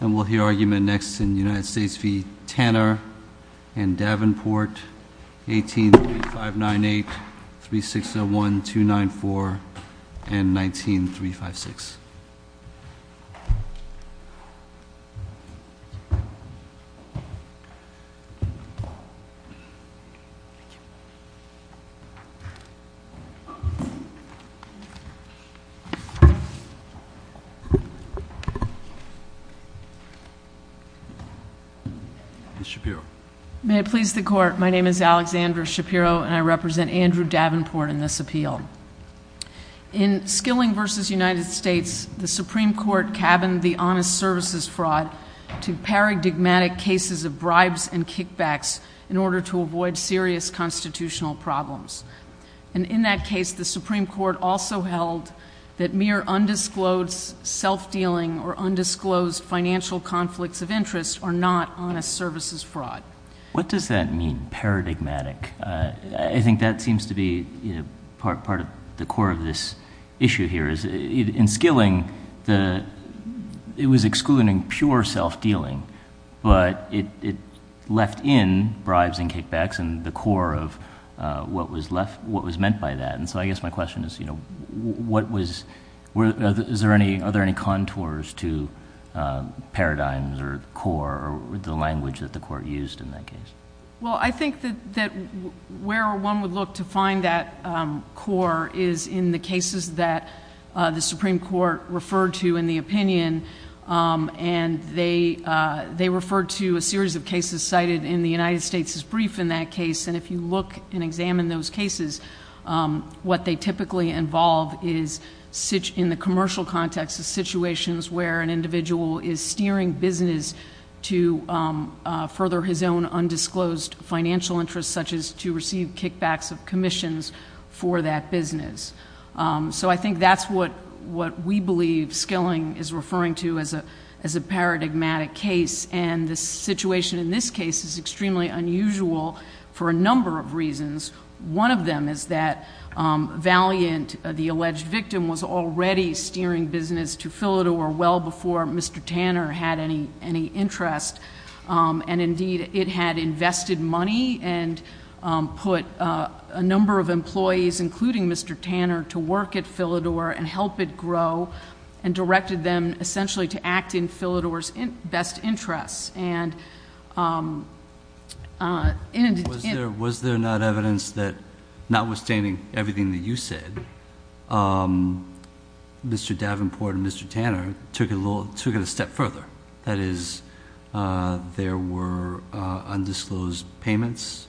And we'll hear argument next in United States v. Tanner and Davenport, 183598, 3601, 294, and 19356. Ms. Shapiro. May it please the Court, my name is Alexandra Shapiro, and I represent Andrew Davenport in this appeal. In Skilling v. United States, the Supreme Court cabined the honest services fraud to paradigmatic cases of bribes and kickbacks in order to avoid serious constitutional problems. And in that case, the Supreme Court also held that mere undisclosed self-dealing or undisclosed financial conflicts of interest are not honest services fraud. What does that mean, paradigmatic? I think that seems to be part of the core of this issue here. In Skilling, it was excluding pure self-dealing, but it left in bribes and kickbacks and the core of what was meant by that. And so I guess my question is, are there any contours to paradigms or core or the language that the Court used in that case? Well, I think that where one would look to find that core is in the cases that the Supreme Court referred to in the opinion, and they referred to a series of cases cited in the United States' brief in that case. And if you look and examine those cases, what they typically involve is in the commercial context, the situations where an individual is steering business to further his own undisclosed financial interest, such as to receive kickbacks of commissions for that business. So I think that's what we believe Skilling is referring to as a paradigmatic case. And the situation in this case is extremely unusual for a number of reasons. One of them is that Valiant, the alleged victim, was already steering business to Philidor well before Mr. Tanner had any interest. And indeed, it had invested money and put a number of employees, including Mr. Tanner, to work at Philidor and help it grow and directed them essentially to act in Philidor's best interests. And was there not evidence that notwithstanding everything that you said, Mr. Davenport and Mr. Tanner took it a step further? That is, there were undisclosed payments.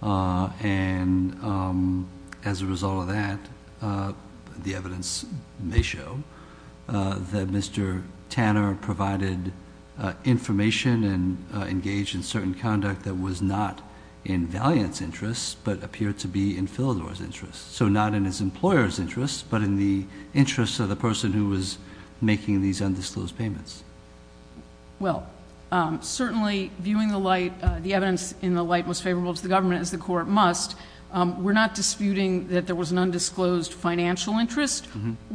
And as a result of that, the evidence may show that Mr. Tanner provided information and engaged in certain conduct that was not in Valiant's interests but appeared to be in Philidor's interests. So not in his employer's interests, but in the interests of the person who was making these undisclosed payments. Well, certainly, viewing the evidence in the light most favorable to the government, as the Court must, we're not disputing that there was an undisclosed financial interest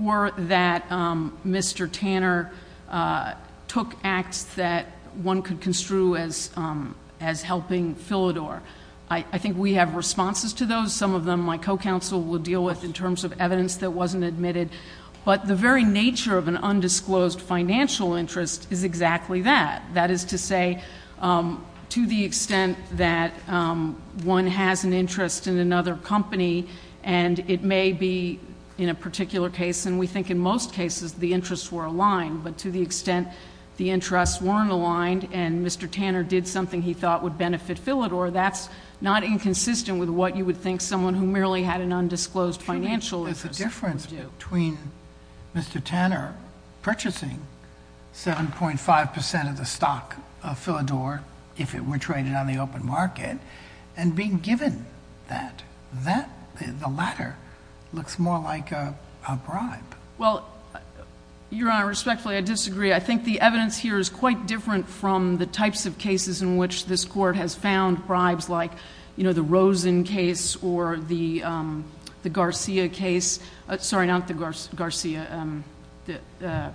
or that Mr. Tanner took acts that one could construe as helping Philidor. I think we have responses to those. Some of them my co-counsel will deal with in terms of evidence that wasn't admitted. But the very nature of an undisclosed financial interest is exactly that. That is to say, to the extent that one has an interest in another company and it may be in a particular case, and we think in most cases the interests were aligned, but to the extent the interests weren't aligned and Mr. Tanner did something he thought would benefit Philidor, that's not inconsistent with what you would think someone who merely had an undisclosed financial interest would do. There's a difference between Mr. Tanner purchasing 7.5 percent of the stock of Philidor, if it were traded on the open market, and being given that. The latter looks more like a bribe. Well, Your Honor, respectfully, I disagree. I think the evidence here is quite different from the types of cases in which this Court has found bribes like, you know, the Rosen case or the Garcia case. Sorry, not the Garcia. Ganim.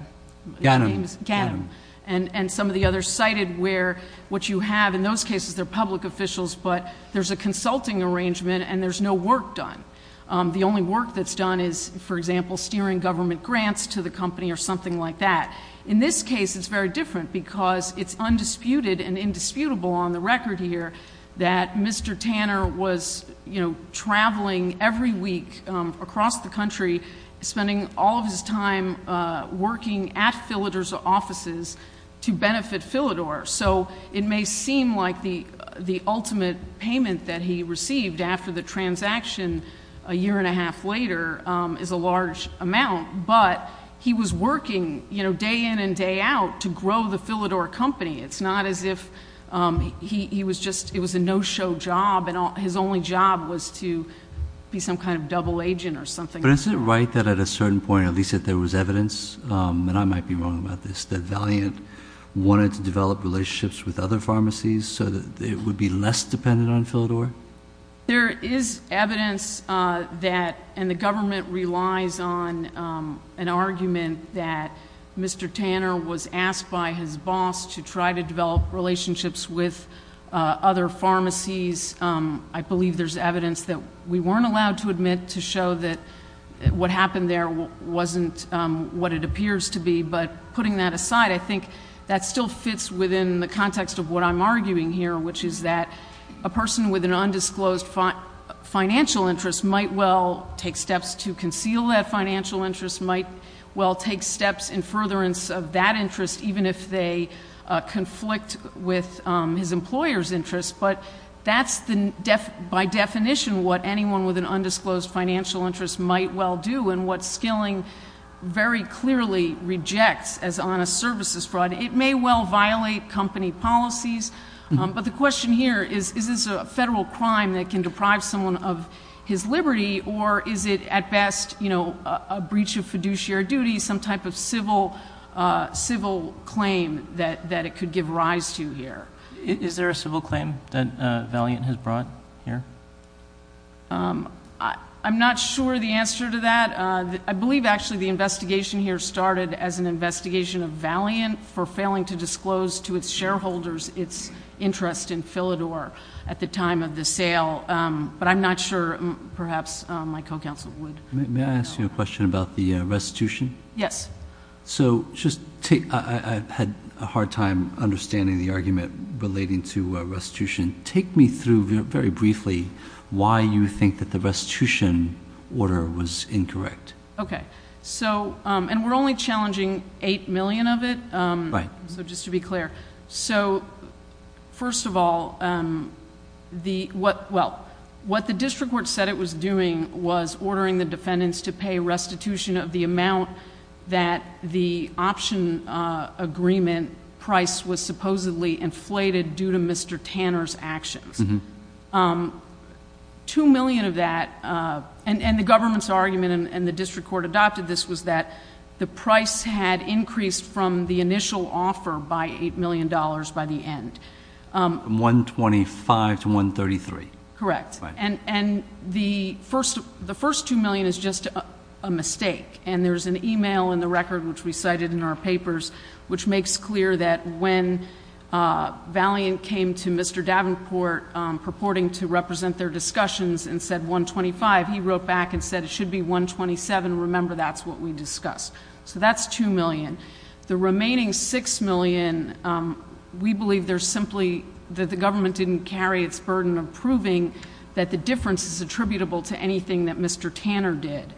Ganim. And some of the others cited where what you have in those cases, they're public officials, but there's a consulting arrangement and there's no work done. The only work that's done is, for example, steering government grants to the company or something like that. In this case, it's very different because it's undisputed and indisputable on the record here that Mr. Tanner was, you know, traveling every week across the country, spending all of his time working at Philidor's offices to benefit Philidor. So it may seem like the ultimate payment that he received after the transaction a year and a half later is a large amount, but he was working, you know, day in and day out to grow the Philidor company. It's not as if he was just, it was a no-show job and his only job was to be some kind of double agent or something. But isn't it right that at a certain point, at least that there was evidence, and I might be wrong about this, that Valiant wanted to develop relationships with other pharmacies so that it would be less dependent on Philidor? There is evidence that, and the government relies on an argument that Mr. Tanner was asked by his boss to try to develop relationships with other pharmacies. I believe there's evidence that we weren't allowed to admit to show that what happened there wasn't what it appears to be. But putting that aside, I think that still fits within the context of what I'm arguing here, which is that a person with an undisclosed financial interest might well take steps to conceal that financial interest, might well take steps in furtherance of that interest, even if they conflict with his employer's interest. But that's, by definition, what anyone with an undisclosed financial interest might well do and what Skilling very clearly rejects as honest services fraud. It may well violate company policies. But the question here is, is this a federal crime that can deprive someone of his liberty, or is it at best a breach of fiduciary duty, some type of civil claim that it could give rise to here? Is there a civil claim that Valiant has brought here? I'm not sure the answer to that. I believe, actually, the investigation here started as an investigation of Valiant for failing to disclose to its shareholders its interest in Philidor at the time of the sale. But I'm not sure perhaps my co-counsel would. May I ask you a question about the restitution? Yes. So I had a hard time understanding the argument relating to restitution. Take me through very briefly why you think that the restitution order was incorrect. Okay. We're only challenging eight million of it? Right. Just to be clear. First of all, what the district court said it was doing was ordering the defendants to pay restitution of the amount that the Two million of that, and the government's argument, and the district court adopted this, was that the price had increased from the initial offer by $8 million by the end. $125 to $133. Correct. And the first two million is just a mistake. And there's an e-mail in the record, which we cited in our papers, which makes clear that when Valiant came to Mr. Davenport purporting to represent their discussions and said $125, he wrote back and said it should be $127. Remember, that's what we discussed. So that's $2 million. The remaining $6 million, we believe there's simply that the government didn't carry its burden of proving that the difference is attributable to anything that Mr. Tanner did.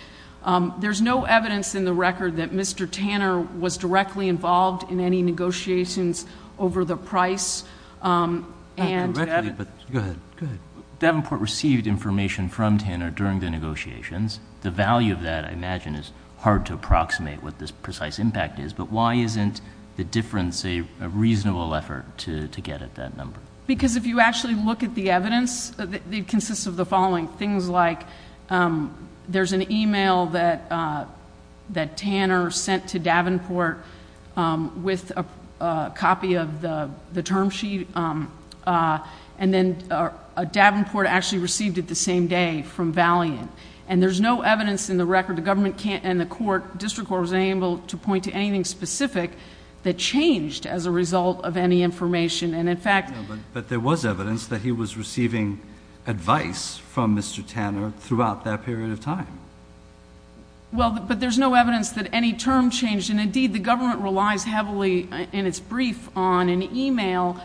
There's no evidence in the record that Mr. Tanner was directly involved in any negotiations over the price. Go ahead. Davenport received information from Tanner during the negotiations. The value of that, I imagine, is hard to approximate what this precise impact is, but why isn't the difference a reasonable effort to get at that number? Because if you actually look at the evidence, it consists of the following. Things like there's an e-mail that Tanner sent to Davenport with a copy of the term sheet, and then Davenport actually received it the same day from Valiant. And there's no evidence in the record, the government can't, and the court, district court wasn't able to point to anything specific that changed as a result of any information. But there was evidence that he was receiving advice from Mr. Tanner throughout that period of time. Well, but there's no evidence that any term changed. And, indeed, the government relies heavily in its brief on an e-mail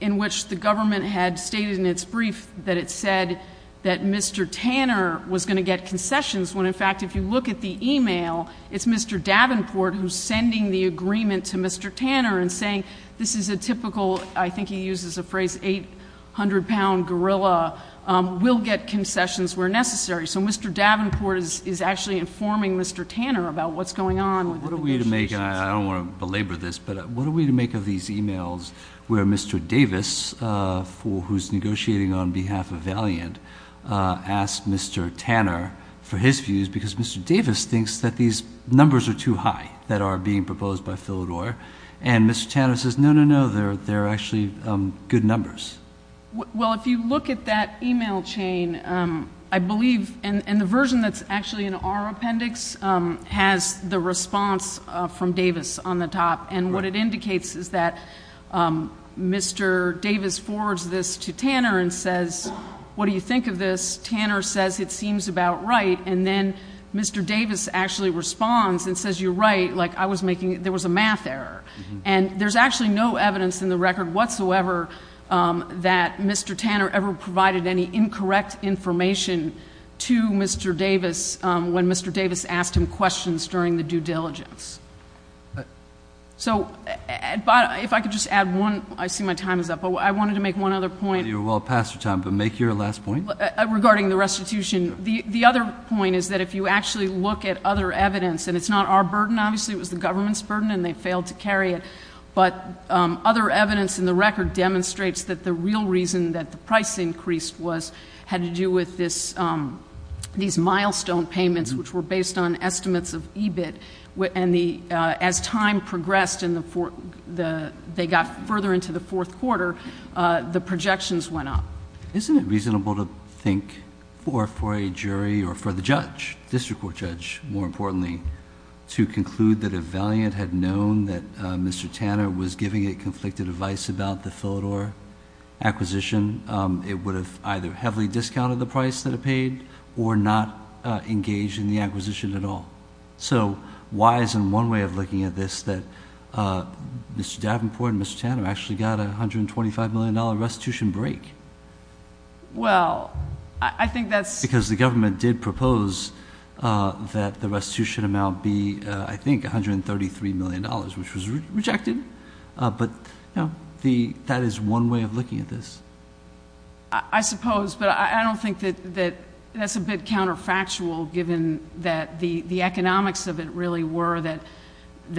in which the government had stated in its brief that it said that Mr. Tanner was going to get concessions, when, in fact, if you look at the e-mail, it's Mr. Davenport who's sending the agreement to Mr. Tanner and saying, this is a typical, I think he uses a phrase, 800-pound gorilla, will get concessions where necessary. So Mr. Davenport is actually informing Mr. Tanner about what's going on with the negotiations. What are we to make, and I don't want to belabor this, but what are we to make of these e-mails where Mr. Davis, who's negotiating on behalf of Valiant, asks Mr. Tanner for his views because Mr. Davis thinks that these numbers are too high that are being proposed by Philidor. And Mr. Tanner says, no, no, no, they're actually good numbers. Well, if you look at that e-mail chain, I believe, and the version that's actually in our appendix has the response from Davis on the top. And what it indicates is that Mr. Davis forwards this to Tanner and says, what do you think of this? Tanner says, it seems about right. And then Mr. Davis actually responds and says, you're right, like I was making, there was a math error. And there's actually no evidence in the record whatsoever that Mr. Tanner ever provided any incorrect information to Mr. Davis when Mr. Davis asked him questions during the due diligence. So if I could just add one, I see my time is up, but I wanted to make one other point. You're well past your time, but make your last point. Regarding the restitution, the other point is that if you actually look at other evidence, and it's not our burden, obviously, it was the government's burden and they failed to carry it, but other evidence in the record demonstrates that the real reason that the price increased was, had to do with this, these milestone payments, which were based on estimates of EBIT, and as time progressed and they got further into the fourth quarter, the projections went up. Isn't it reasonable to think for a jury or for the judge, district court judge more importantly, to conclude that if Valiant had known that Mr. Tanner was giving it conflicted advice about the Philidor acquisition, it would have either heavily discounted the price that it paid or not engaged in the acquisition at all? So why isn't one way of looking at this that Mr. Davenport and Mr. Tanner actually got a $125 million restitution break? Well, I think that's... Because the government did propose that the restitution amount be, I think, $133 million, which was rejected. But that is one way of looking at this. I suppose, but I don't think that that's a bit counterfactual given that the economics of it really were that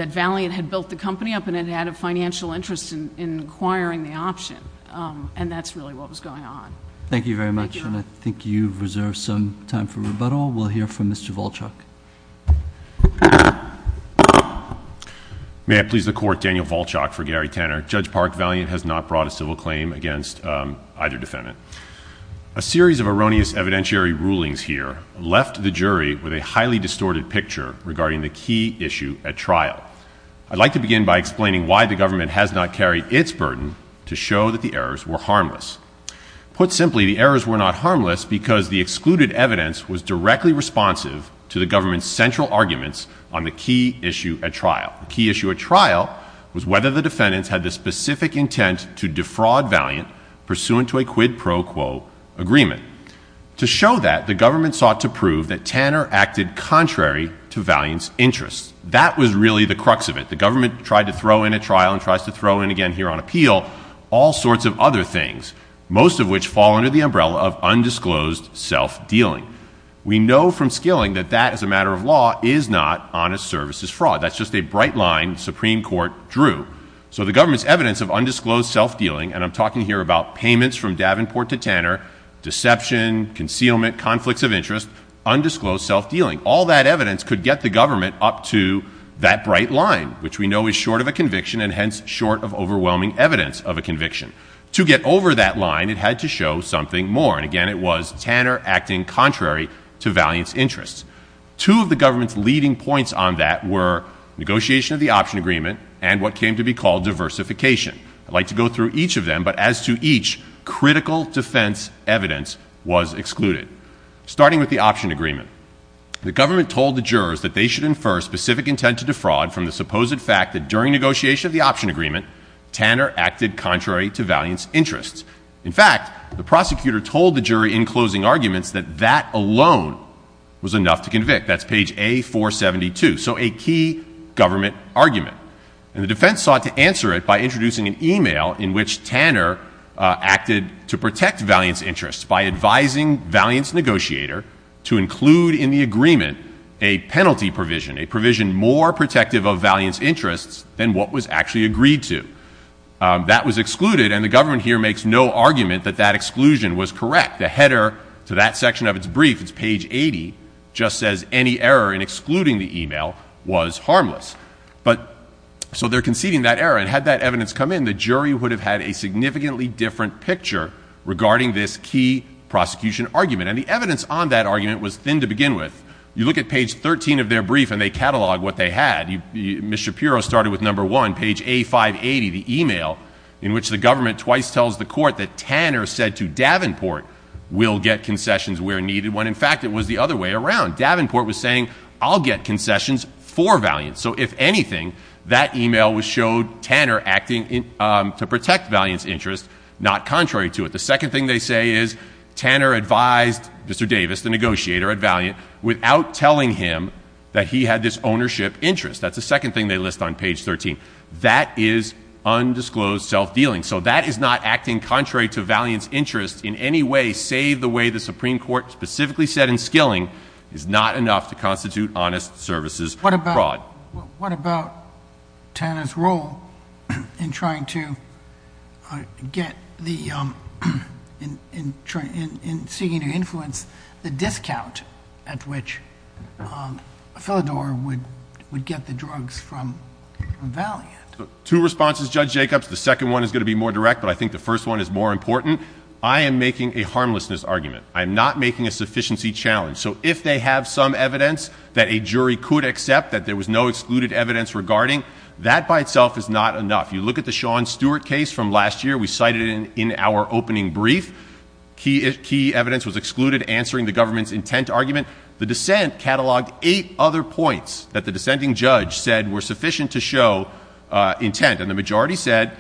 Valiant had built the company up and it had a financial interest in acquiring the option, and that's really what was going on. Thank you very much, and I think you've reserved some time for rebuttal. We'll hear from Mr. Volchuk. May it please the Court, Daniel Volchuk for Gary Tanner. Judge Park, Valiant has not brought a civil claim against either defendant. A series of erroneous evidentiary rulings here left the jury with a highly distorted picture regarding the key issue at trial. I'd like to begin by explaining why the government has not carried its burden to show that the errors were harmless. Put simply, the errors were not harmless because the excluded evidence was directly responsive to the government's central arguments on the key issue at trial. The key issue at trial was whether the defendants had the specific intent to defraud Valiant pursuant to a quid pro quo agreement. To show that, the government sought to prove that Tanner acted contrary to Valiant's interests. That was really the crux of it. The government tried to throw in a trial and tries to throw in again here on appeal all sorts of other things, most of which fall under the umbrella of undisclosed self-dealing. We know from Skilling that that, as a matter of law, is not honest services fraud. That's just a bright line Supreme Court drew. So the government's evidence of undisclosed self-dealing, and I'm talking here about payments from Davenport to Tanner, deception, concealment, conflicts of interest, undisclosed self-dealing. All that evidence could get the government up to that bright line, which we know is short of a conviction and hence short of overwhelming evidence of a conviction. To get over that line, it had to show something more. And again, it was Tanner acting contrary to Valiant's interests. Two of the government's leading points on that were negotiation of the option agreement and what came to be called diversification. I'd like to go through each of them, but as to each, critical defense evidence was excluded. Starting with the option agreement, the government told the jurors that they should infer specific intent to defraud from the supposed fact that during negotiation of the option agreement, Tanner acted contrary to Valiant's interests. In fact, the prosecutor told the jury in closing arguments that that alone was enough to convict. That's page A472. So a key government argument. And the defense sought to answer it by introducing an e-mail in which Tanner acted to protect Valiant's interests by advising Valiant's negotiator to include in the agreement a penalty provision, a provision more protective of Valiant's interests than what was actually agreed to. That was excluded, and the government here makes no argument that that exclusion was correct. The header to that section of its brief, it's page 80, just says any error in excluding the e-mail was harmless. So they're conceding that error. And had that evidence come in, the jury would have had a significantly different picture regarding this key prosecution argument. And the evidence on that argument was thin to begin with. You look at page 13 of their brief, and they catalog what they had. Ms. Shapiro started with number one, page A580, the e-mail in which the government twice tells the court that Tanner said to Davenport, we'll get concessions where needed, when in fact it was the other way around. Davenport was saying, I'll get concessions for Valiant. So if anything, that e-mail showed Tanner acting to protect Valiant's interests, not contrary to it. The second thing they say is Tanner advised Mr. Davis, the negotiator at Valiant, without telling him that he had this ownership interest. That's the second thing they list on page 13. That is undisclosed self-dealing. So that is not acting contrary to Valiant's interests in any way, save the way the Supreme Court specifically said in Skilling, is not enough to constitute honest services abroad. So what about Tanner's role in trying to get the, in seeking to influence the discount at which Philidor would get the drugs from Valiant? Two responses, Judge Jacobs. The second one is going to be more direct, but I think the first one is more important. I am making a harmlessness argument. I am not making a sufficiency challenge. So if they have some evidence that a jury could accept that there was no excluded evidence regarding, that by itself is not enough. You look at the Sean Stewart case from last year. We cited it in our opening brief. Key evidence was excluded answering the government's intent argument. The dissent cataloged eight other points that the dissenting judge said were sufficient to show intent. And the majority said,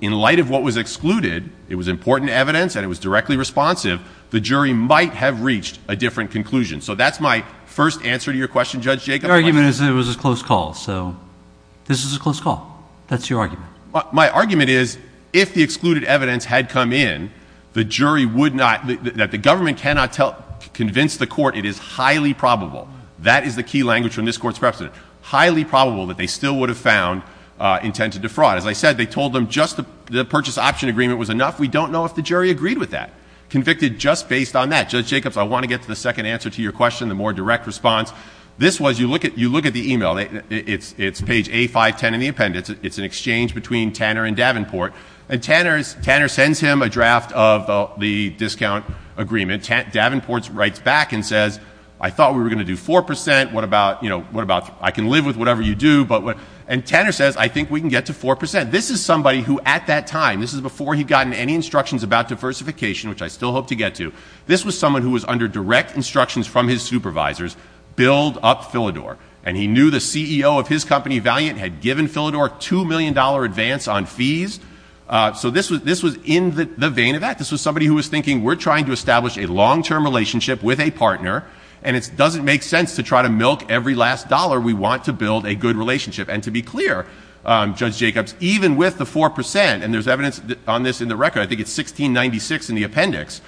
in light of what was excluded, it was important evidence and it was directly responsive. The jury might have reached a different conclusion. So that's my first answer to your question, Judge Jacobs. Your argument is that it was a close call. So this is a close call. That's your argument. My argument is if the excluded evidence had come in, the jury would not, that the government cannot convince the court it is highly probable. That is the key language from this court's precedent. Highly probable that they still would have found intent to defraud. As I said, they told them just the purchase option agreement was enough. We don't know if the jury agreed with that. Convicted just based on that. Judge Jacobs, I want to get to the second answer to your question, the more direct response. This was, you look at the email. It's page A510 in the appendix. It's an exchange between Tanner and Davenport. And Tanner sends him a draft of the discount agreement. Davenport writes back and says, I thought we were going to do 4%. What about, you know, I can live with whatever you do. And Tanner says, I think we can get to 4%. This is somebody who at that time, this is before he'd gotten any instructions about diversification, which I still hope to get to. This was someone who was under direct instructions from his supervisors, build up Philidor. And he knew the CEO of his company, Valiant, had given Philidor a $2 million advance on fees. So this was in the vein of that. This was somebody who was thinking, we're trying to establish a long-term relationship with a partner. And it doesn't make sense to try to milk every last dollar. We want to build a good relationship. And to be clear, Judge Jacobs, even with the 4%, and there's evidence on this in the record, I think it's 1696 in the appendix,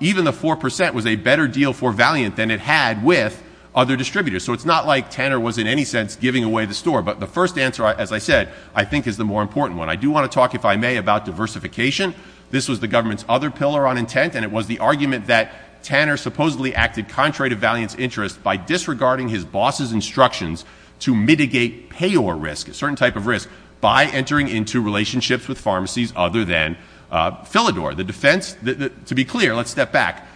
even the 4% was a better deal for Valiant than it had with other distributors. So it's not like Tanner was in any sense giving away the store. But the first answer, as I said, I think is the more important one. I do want to talk, if I may, about diversification. This was the government's other pillar on intent. And it was the argument that Tanner supposedly acted contrary to Valiant's interest by disregarding his boss's instructions to mitigate payor risk, a certain type of risk, by entering into relationships with pharmacies other than Philidor. The defense, to be clear, let's step back.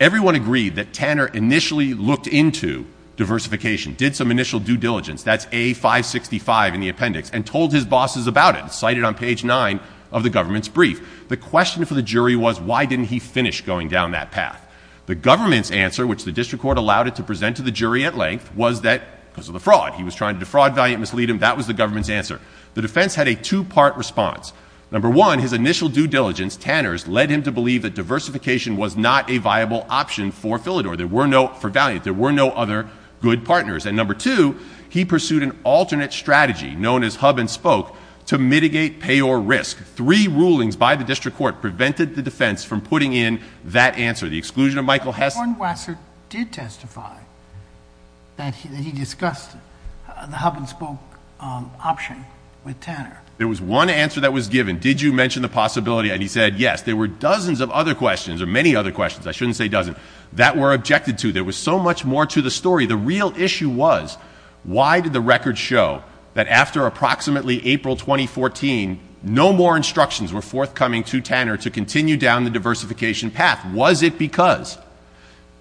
Everyone agreed that Tanner initially looked into diversification, did some initial due diligence, that's A-565 in the appendix, and told his bosses about it, cited on page 9 of the government's brief. The question for the jury was, why didn't he finish going down that path? The government's answer, which the district court allowed it to present to the jury at length, was that because of the fraud. He was trying to defraud Valiant and mislead him. That was the government's answer. The defense had a two-part response. Number one, his initial due diligence, Tanner's, led him to believe that diversification was not a viable option for Philidor, for Valiant. There were no other good partners. And number two, he pursued an alternate strategy, known as hub and spoke, to mitigate payor risk. Three rulings by the district court prevented the defense from putting in that answer, the exclusion of Michael Hess. But Warren Waxer did testify that he discussed the hub and spoke option with Tanner. There was one answer that was given. Did you mention the possibility? And he said yes. There were dozens of other questions, or many other questions, I shouldn't say dozens, that were objected to. There was so much more to the story. The real issue was, why did the record show that after approximately April 2014, no more instructions were forthcoming to Tanner to continue down the diversification path? Was it because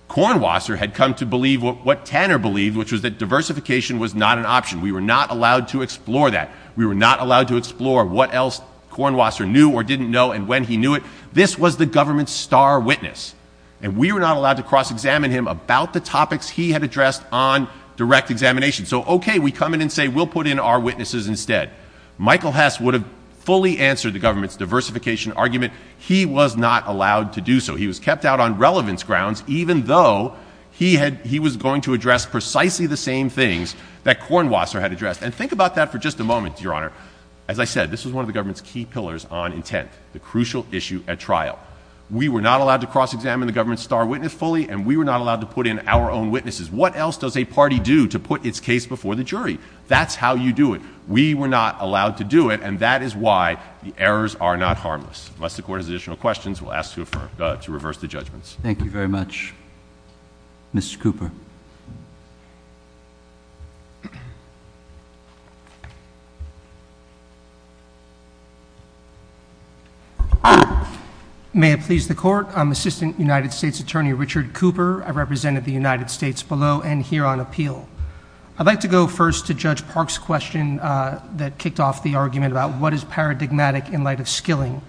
Cornwasser had come to believe what Tanner believed, which was that diversification was not an option? We were not allowed to explore that. We were not allowed to explore what else Cornwasser knew or didn't know and when he knew it. This was the government's star witness. And we were not allowed to cross-examine him about the topics he had addressed on direct examination. So okay, we come in and say we'll put in our witnesses instead. Michael Hess would have fully answered the government's diversification argument. He was not allowed to do so. He was kept out on relevance grounds, even though he was going to address precisely the same things that Cornwasser had addressed. And think about that for just a moment, Your Honor. As I said, this was one of the government's key pillars on intent, the crucial issue at trial. We were not allowed to cross-examine the government's star witness fully, and we were not allowed to put in our own witnesses. What else does a party do to put its case before the jury? That's how you do it. We were not allowed to do it, and that is why the errors are not harmless. Unless the Court has additional questions, we'll ask to reverse the judgments. Thank you very much, Mr. Cooper. May it please the Court, I'm Assistant United States Attorney Richard Cooper. I represent the United States below and here on appeal. I'd like to go first to Judge Park's question that kicked off the argument about what is paradigmatic in light of skilling.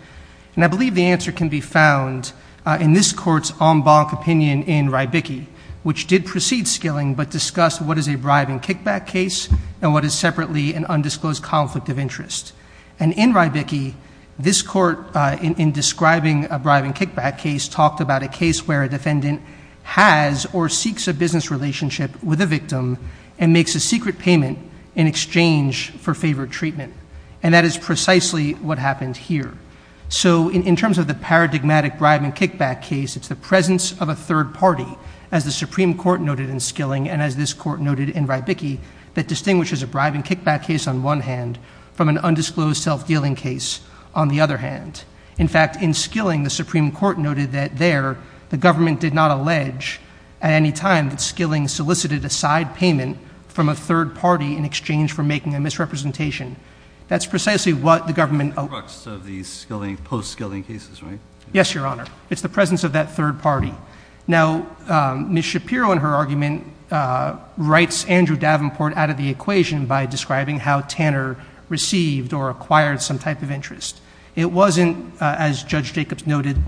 And I believe the answer can be found in this Court's en banc opinion in Rybicki, which did precede skilling but discussed what is a bribing kickback case and what is separately an undisclosed conflict of interest. And in Rybicki, this Court, in describing a bribing kickback case, talked about a case where a defendant has or seeks a business relationship with a victim and makes a secret payment in exchange for favored treatment. And that is precisely what happened here. So in terms of the paradigmatic bribing kickback case, it's the presence of a third party, as the Supreme Court noted in skilling and as this Court noted in Rybicki, that distinguishes a bribing kickback case on one hand from an undisclosed self-dealing case on the other hand. In fact, in skilling, the Supreme Court noted that there the government did not allege at any time that skilling solicited a side payment from a third party in exchange for making a misrepresentation. That's precisely what the government— —of the post-skilling cases, right? Yes, Your Honor. It's the presence of that third party. Now, Ms. Shapiro in her argument writes Andrew Davenport out of the equation by describing how Tanner received or acquired some type of interest. It wasn't, as Judge Jacobs noted,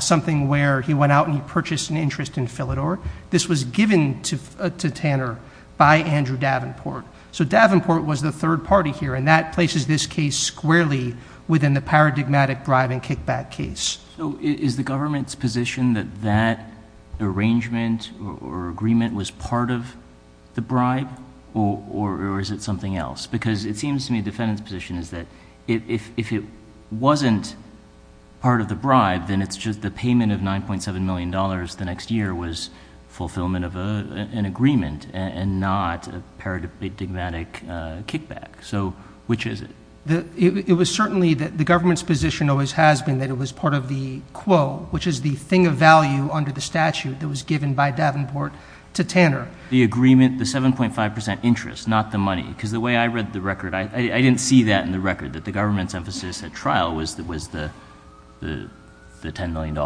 something where he went out and he purchased an interest in Philidor. This was given to Tanner by Andrew Davenport. So Davenport was the third party here, and that places this case squarely within the paradigmatic bribing kickback case. So is the government's position that that arrangement or agreement was part of the bribe, or is it something else? Because it seems to me the defendant's position is that if it wasn't part of the bribe, then it's just the payment of $9.7 million the next year was fulfillment of an agreement and not a paradigmatic kickback. So which is it? It was certainly that the government's position always has been that it was part of the quo, which is the thing of value under the statute that was given by Davenport to Tanner. The agreement, the 7.5 percent interest, not the money. Because the way I read the record, I didn't see that in the record, that the government's emphasis at trial was the $10 million.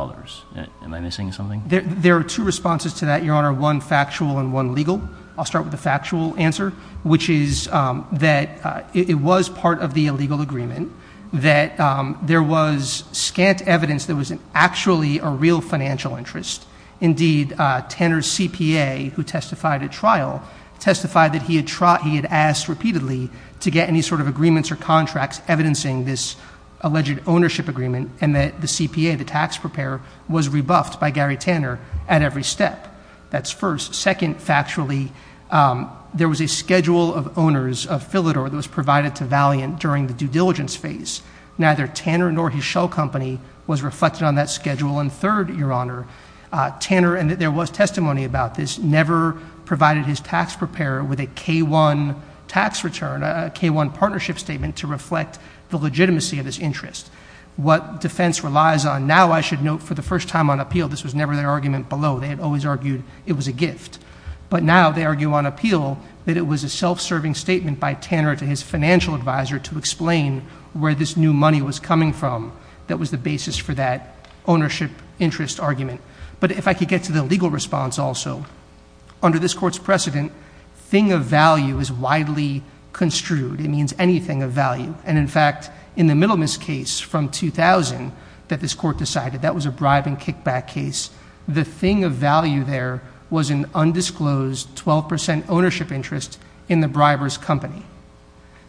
Am I missing something? There are two responses to that, Your Honor, one factual and one legal. I'll start with the factual answer, which is that it was part of the illegal agreement, that there was scant evidence there was actually a real financial interest. Indeed, Tanner's CPA, who testified at trial, testified that he had asked repeatedly to get any sort of agreements or contracts evidencing this alleged ownership agreement, and that the CPA, the tax preparer, was rebuffed by Gary Tanner at every step. That's first. Second, factually, there was a schedule of owners of Philidor that was provided to Valiant during the due diligence phase. Neither Tanner nor his shell company was reflected on that schedule. And third, Your Honor, Tanner, and there was testimony about this, never provided his tax preparer with a K-1 tax return, a K-1 partnership statement to reflect the legitimacy of his interest. What defense relies on, now I should note for the first time on appeal, this was never their argument below. They had always argued it was a gift. But now they argue on appeal that it was a self-serving statement by Tanner to his financial advisor to explain where this new money was coming from that was the basis for that ownership interest argument. But if I could get to the legal response also, under this Court's precedent, thing of value is widely construed. It means anything of value. And, in fact, in the Middleman's case from 2000 that this Court decided, that was a bribe and kickback case, the thing of value there was an undisclosed 12 percent ownership interest in the briber's company.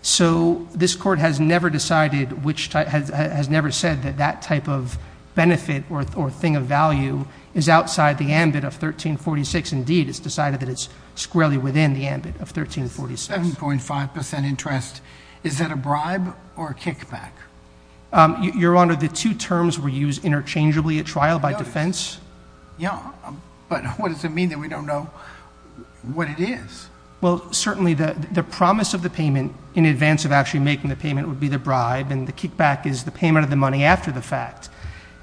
So this Court has never decided which type, has never said that that type of benefit or thing of value is outside the ambit of 1346. Indeed, it's decided that it's squarely within the ambit of 1346. 7.5 percent interest. Is that a bribe or a kickback? Your Honor, the two terms were used interchangeably at trial by defense. Yeah, but what does it mean that we don't know what it is? Well, certainly the promise of the payment in advance of actually making the payment would be the bribe, and the kickback is the payment of the money after the fact.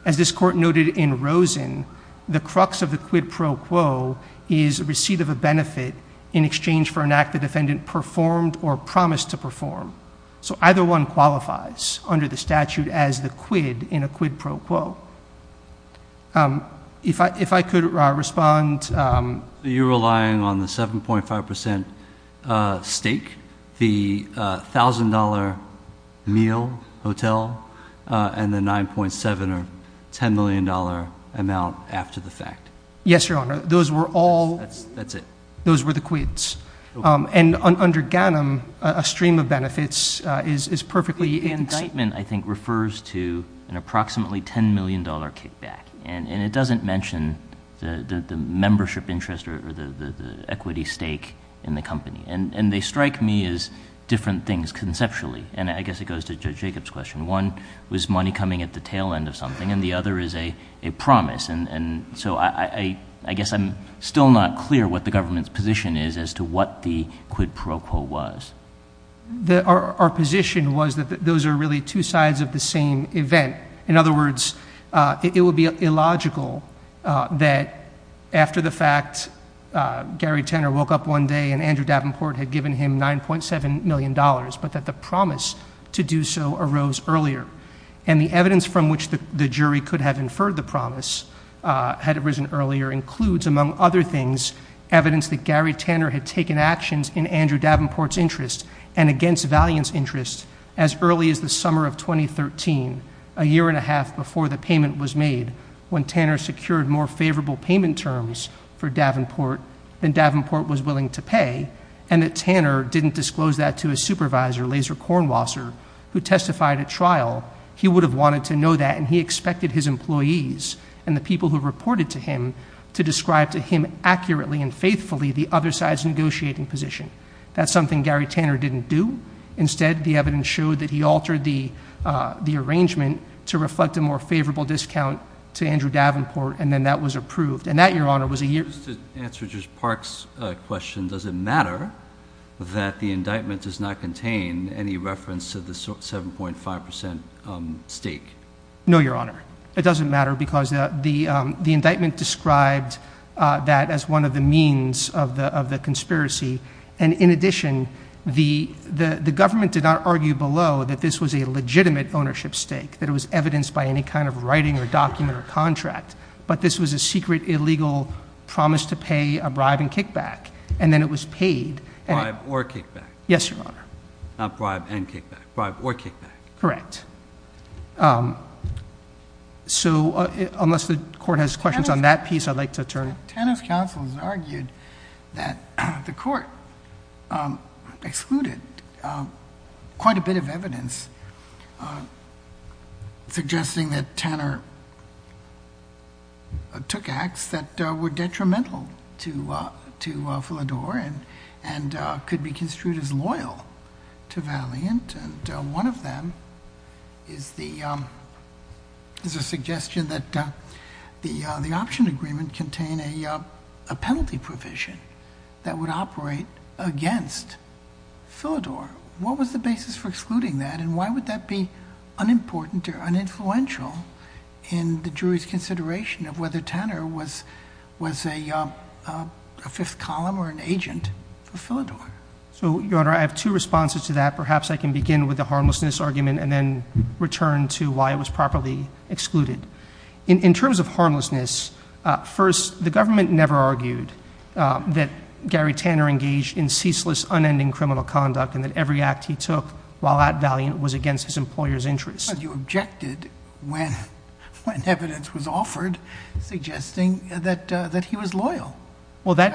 As this Court noted in Rosen, the crux of the quid pro quo is receipt of a benefit in exchange for an act the defendant performed or promised to perform. So either one qualifies under the statute as the quid in a quid pro quo. If I could respond. You're relying on the 7.5 percent stake, the $1,000 meal, hotel, and the $9.7 or $10 million amount after the fact. Yes, Your Honor. Those were all. That's it. Those were the quids. And under Ganem, a stream of benefits is perfectly. The indictment, I think, refers to an approximately $10 million kickback, and it doesn't mention the membership interest or the equity stake in the company. And they strike me as different things conceptually, and I guess it goes to Judge Jacob's question. One was money coming at the tail end of something, and the other is a promise. And so I guess I'm still not clear what the government's position is as to what the quid pro quo was. Our position was that those are really two sides of the same event. In other words, it would be illogical that after the fact Gary Tanner woke up one day and Andrew Davenport had given him $9.7 million, but that the promise to do so arose earlier. And the evidence from which the jury could have inferred the promise had arisen earlier includes, among other things, evidence that Gary Tanner had taken actions in Andrew Davenport's interest and against Valiant's interest as early as the summer of 2013, a year and a half before the payment was made, when Tanner secured more favorable payment terms for Davenport than Davenport was willing to pay, and that Tanner didn't disclose that to his supervisor, Laser Cornwasser, who testified at trial. He would have wanted to know that, and he expected his employees and the people who reported to him to describe to him accurately and faithfully the other side's negotiating position. That's something Gary Tanner didn't do. Instead, the evidence showed that he altered the arrangement to reflect a more favorable discount to Andrew Davenport, and then that was approved. And that, Your Honor, was a year. Just to answer Judge Park's question, does it matter that the indictment does not contain any reference to the 7.5% stake? No, Your Honor. It doesn't matter because the indictment described that as one of the means of the conspiracy. And in addition, the government did not argue below that this was a legitimate ownership stake, that it was evidenced by any kind of writing or document or contract, but this was a secret, illegal promise to pay a bribe and kickback. And then it was paid. Bribe or kickback. Yes, Your Honor. Not bribe and kickback. Bribe or kickback. Correct. So unless the court has questions on that piece, I'd like to turn it. Tanner's counsel has argued that the court excluded quite a bit of evidence suggesting that Tanner took acts that were detrimental to Philidor and could be construed as loyal to Valiant. And one of them is the, is a suggestion that the, the option agreement contain a penalty provision that would operate against Philidor. What was the basis for excluding that? And why would that be unimportant or uninfluential in the jury's consideration of whether Tanner was, was a fifth column or an agent for Philidor? So Your Honor, I have two responses to that. Perhaps I can begin with the harmlessness argument and then return to why it was properly excluded. In terms of harmlessness. First, the government never argued that Gary Tanner engaged in ceaseless unending criminal conduct and that every act he took while at Valiant was against his employer's interests. You objected when, when evidence was offered suggesting that, that he was loyal. Well, that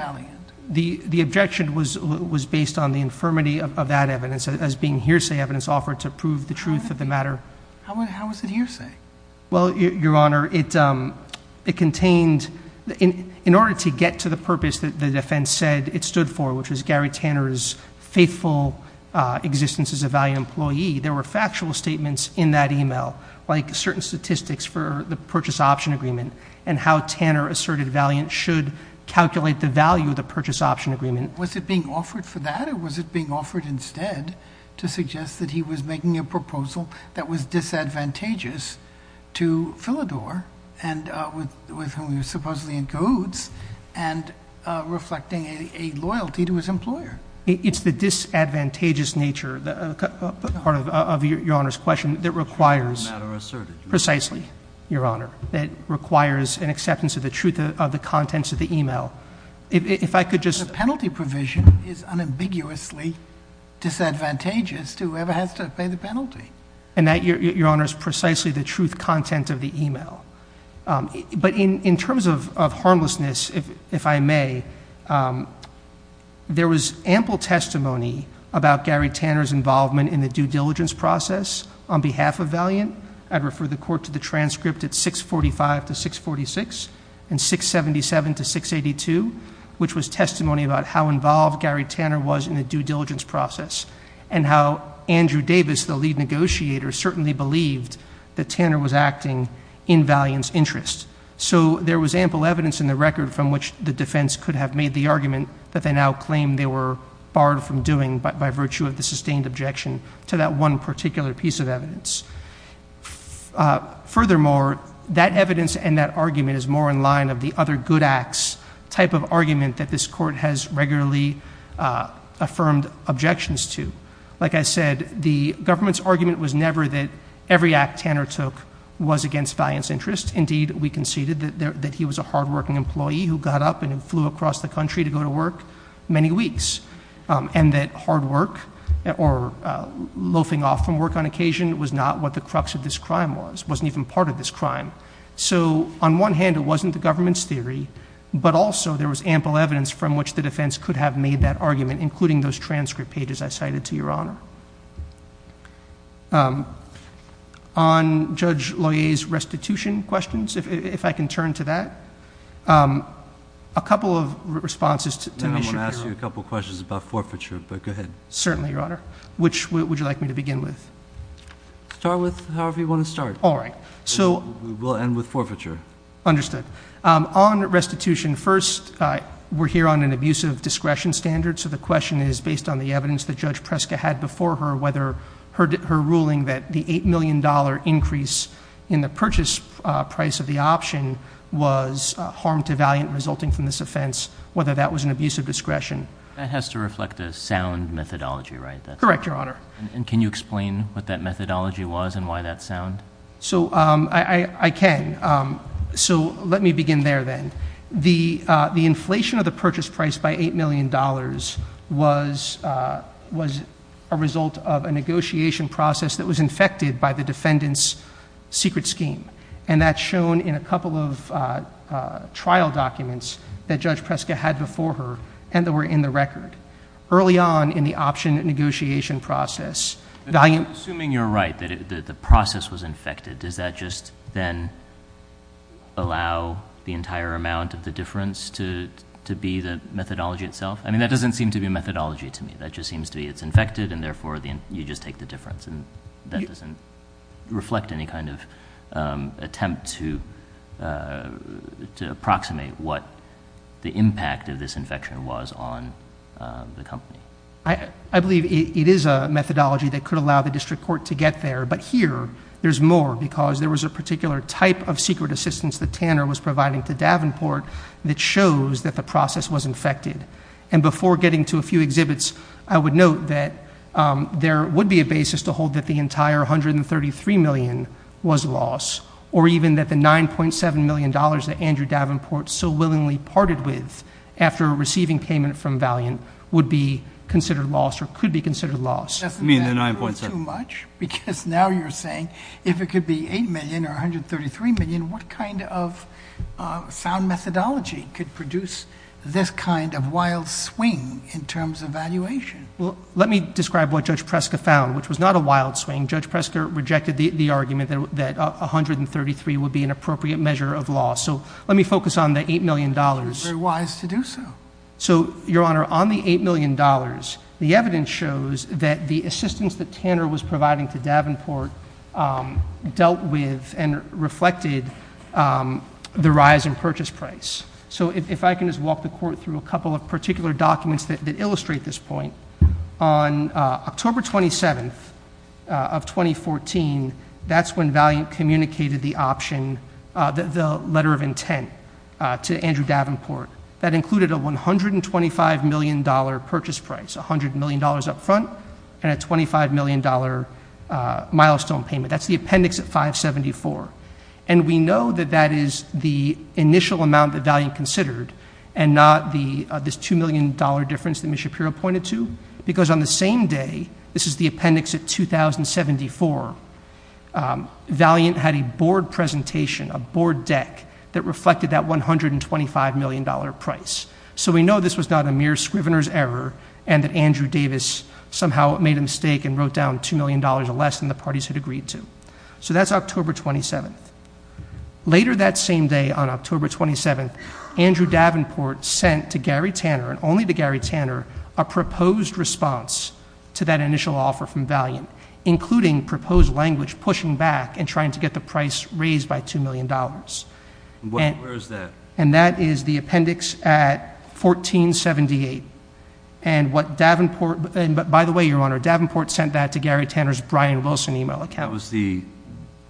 the, the objection was, was based on the infirmity of that evidence as being hearsay evidence offered to prove the truth of the matter. How was it hearsay? Well, Your Honor, it contained in, in order to get to the purpose that the defense said it stood for, which was Gary Tanner's faithful existence as a Valiant employee. There were factual statements in that email like certain statistics for the purchase option agreement and how Tanner asserted Valiant should calculate the value of the purchase option agreement. Was it being offered for that? Or was it being offered instead to suggest that he was making a proposal that was disadvantageous to Philidor and, uh, with, with whom he was supposedly in codes and, uh, reflecting a loyalty to his employer. It's the disadvantageous nature, the part of, of your Honor's question that requires precisely, Your Honor, that requires an acceptance of the truth of the contents of the email. If I could just, The penalty provision is unambiguously disadvantageous to whoever has to pay the penalty. And that, Your Honor, is precisely the truth content of the email. Um, but in, in terms of, of harmlessness, if, if I may, um, there was ample testimony about Gary Tanner's involvement in the due diligence process on behalf of Valiant. I'd refer the court to the transcript at 645 to 646 and 677 to 682, which was testimony about how involved Gary Tanner was in the due diligence process and how Andrew Davis, the lead negotiator certainly believed that Tanner was acting in Valiant's interest. So there was ample evidence in the record from which the defense could have made the argument that they now claim they were barred from doing by, by virtue of the sustained objection to that one particular piece of evidence. Uh, furthermore, that evidence and that argument is more in line of the other good acts type of argument that this court has regularly, uh, affirmed objections to. Like I said, the government's argument was never that every act Tanner took was against Valiant's interest. Indeed, we conceded that there, that he was a hardworking employee who got up and flew across the country to go to work many weeks. Um, and that hard work or loafing off from work on occasion was not what the crux of this crime was, wasn't even part of this crime. So on one hand, it wasn't the government's theory, but also there was ample evidence from which the defense could have made that argument, including those transcript pages I cited to your honor. Um, on judge lawyers, restitution questions. If, if I can turn to that, um, a couple of responses to me, I want to ask you a couple of questions about forfeiture, but go ahead. Certainly your honor, which would you like me to begin with? Start with however you want to start. All right. So we'll end with forfeiture. Understood. Um, on restitution first, uh, we're here on an abusive discretion standard. So the question is based on the evidence that judge Prescott had before her, whether her, her ruling that the $8 million increase in the purchase price of the option was a harm to valiant resulting from this offense, whether that was an abusive discretion. It has to reflect a sound methodology, right? That's correct. Your honor. And can you explain what that methodology was and why that sound? So, um, I, I can, um, so let me begin there. Then the, uh, the inflation of the purchase price by $8 million was, uh, was a result of a negotiation process that was infected by the defendants secret scheme. And that's shown in a couple of, uh, uh, trial documents that judge Prescott had before her and that were in the record early on in the option negotiation process. Assuming you're right, that the process was infected. Does that just then allow the entire amount of the difference to, to be the methodology itself? I mean, that doesn't seem to be a methodology to me that just seems to be it's infected. And therefore the, you just take the difference and that doesn't reflect any kind of, um, attempt to, uh, to approximate what the impact of this infection was on, um, the company. I, I, I don't think that there's a methodology that could allow the district court to get there, but here there's more because there was a particular type of secret assistance that Tanner was providing to Davenport that shows that the process was infected. And before getting to a few exhibits, I would note that, um, there would be a basis to hold that the entire 133 million was loss or even that the $9.7 million that Andrew Davenport so willingly parted with after receiving payment from Valiant would be considered loss or could be considered loss. It doesn't mean that 9.7 much, because now you're saying if it could be 8 million or 133 million, what kind of, uh, sound methodology could produce this kind of wild swing in terms of valuation? Well, let me describe what judge Prescott found, which was not a wild swing. Judge Prescott rejected the argument that, that 133 would be an appropriate measure of loss. So let me focus on the $8 million wise to do so. So your honor on the $8 million, the evidence shows that the assistance that Tanner was providing to Davenport, um, dealt with and reflected, um, the rise in purchase price. So if I can just walk the court through a couple of particular documents that illustrate this point on, uh, October 27th, uh, of 2014, that's when Valiant communicated the option, uh, the letter of intent, uh, to Andrew Davenport that included a $125 million purchase price. $100 million upfront and a $25 million, uh, milestone payment. That's the appendix at 574. And we know that that is the initial amount that Valiant considered and not the, uh, this $2 million difference that Ms. Shapiro pointed to, because on the same day, this is the appendix at 2074. Um, Valiant had a board presentation, a board deck that reflected that $125 million price. So we know this was not a mere Scrivener's error and that Andrew Davis somehow made a mistake and wrote down $2 million or less than the parties had agreed to. So that's October 27th. Later that same day on October 27th, Andrew Davenport sent to Gary Tanner and only to Gary Tanner, a proposed response to that initial offer from Valiant, including proposed language, pushing back and trying to get the price raised by $2 million. And where is that? And that is the appendix at 1478. And what Davenport, but by the way, your honor Davenport sent that to Gary Tanner's Brian Wilson email account was the,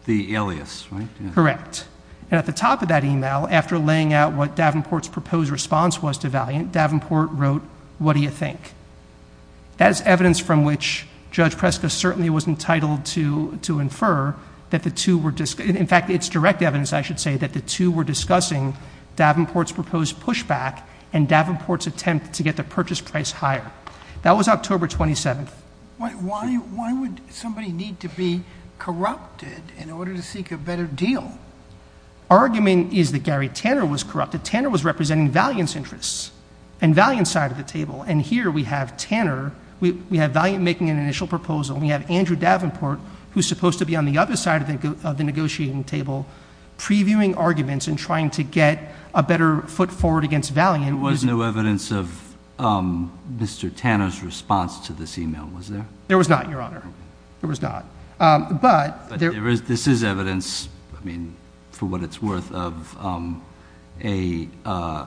the alias, right? Correct. And at the top of that email, after laying out what Davenport's proposed response was to Valiant, Davenport wrote, what do you think as evidence from which judge Prescott certainly was entitled to, to infer that the two were just, in fact, it's direct evidence. I should say that the two were discussing Davenport's proposed pushback and Davenport's attempt to get the purchase price higher. That was October 27th. Why, why would somebody need to be corrupted in order to seek a better deal? Argument is that Gary Tanner was corrupted. Tanner was representing Valiant's interests and Valiant side of the table. And here we have Tanner. We have Valiant making an initial proposal. We have Andrew Davenport, who's supposed to be on the other side of the negotiating table, previewing arguments and trying to get a better foot forward against Valiant was no evidence of, um, Mr. Tanner's response to this email. Was there, there was not your honor. There was not. Um, but there is, this is evidence. I mean, for what it's worth of, um, a, uh,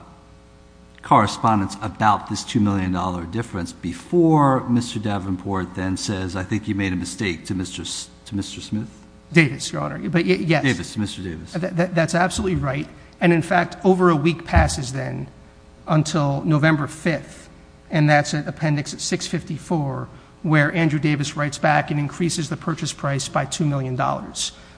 correspondence about this $2 million difference before Mr. Davenport then says, I think you made a mistake to Mr. S to Mr. Smith Davis, your honor. But yes, Mr. Davis, that's absolutely right. And in fact, over a week passes then until November 5th. And that's an appendix at six 54 where Andrew Davis writes back and increases the purchase price by $2 million.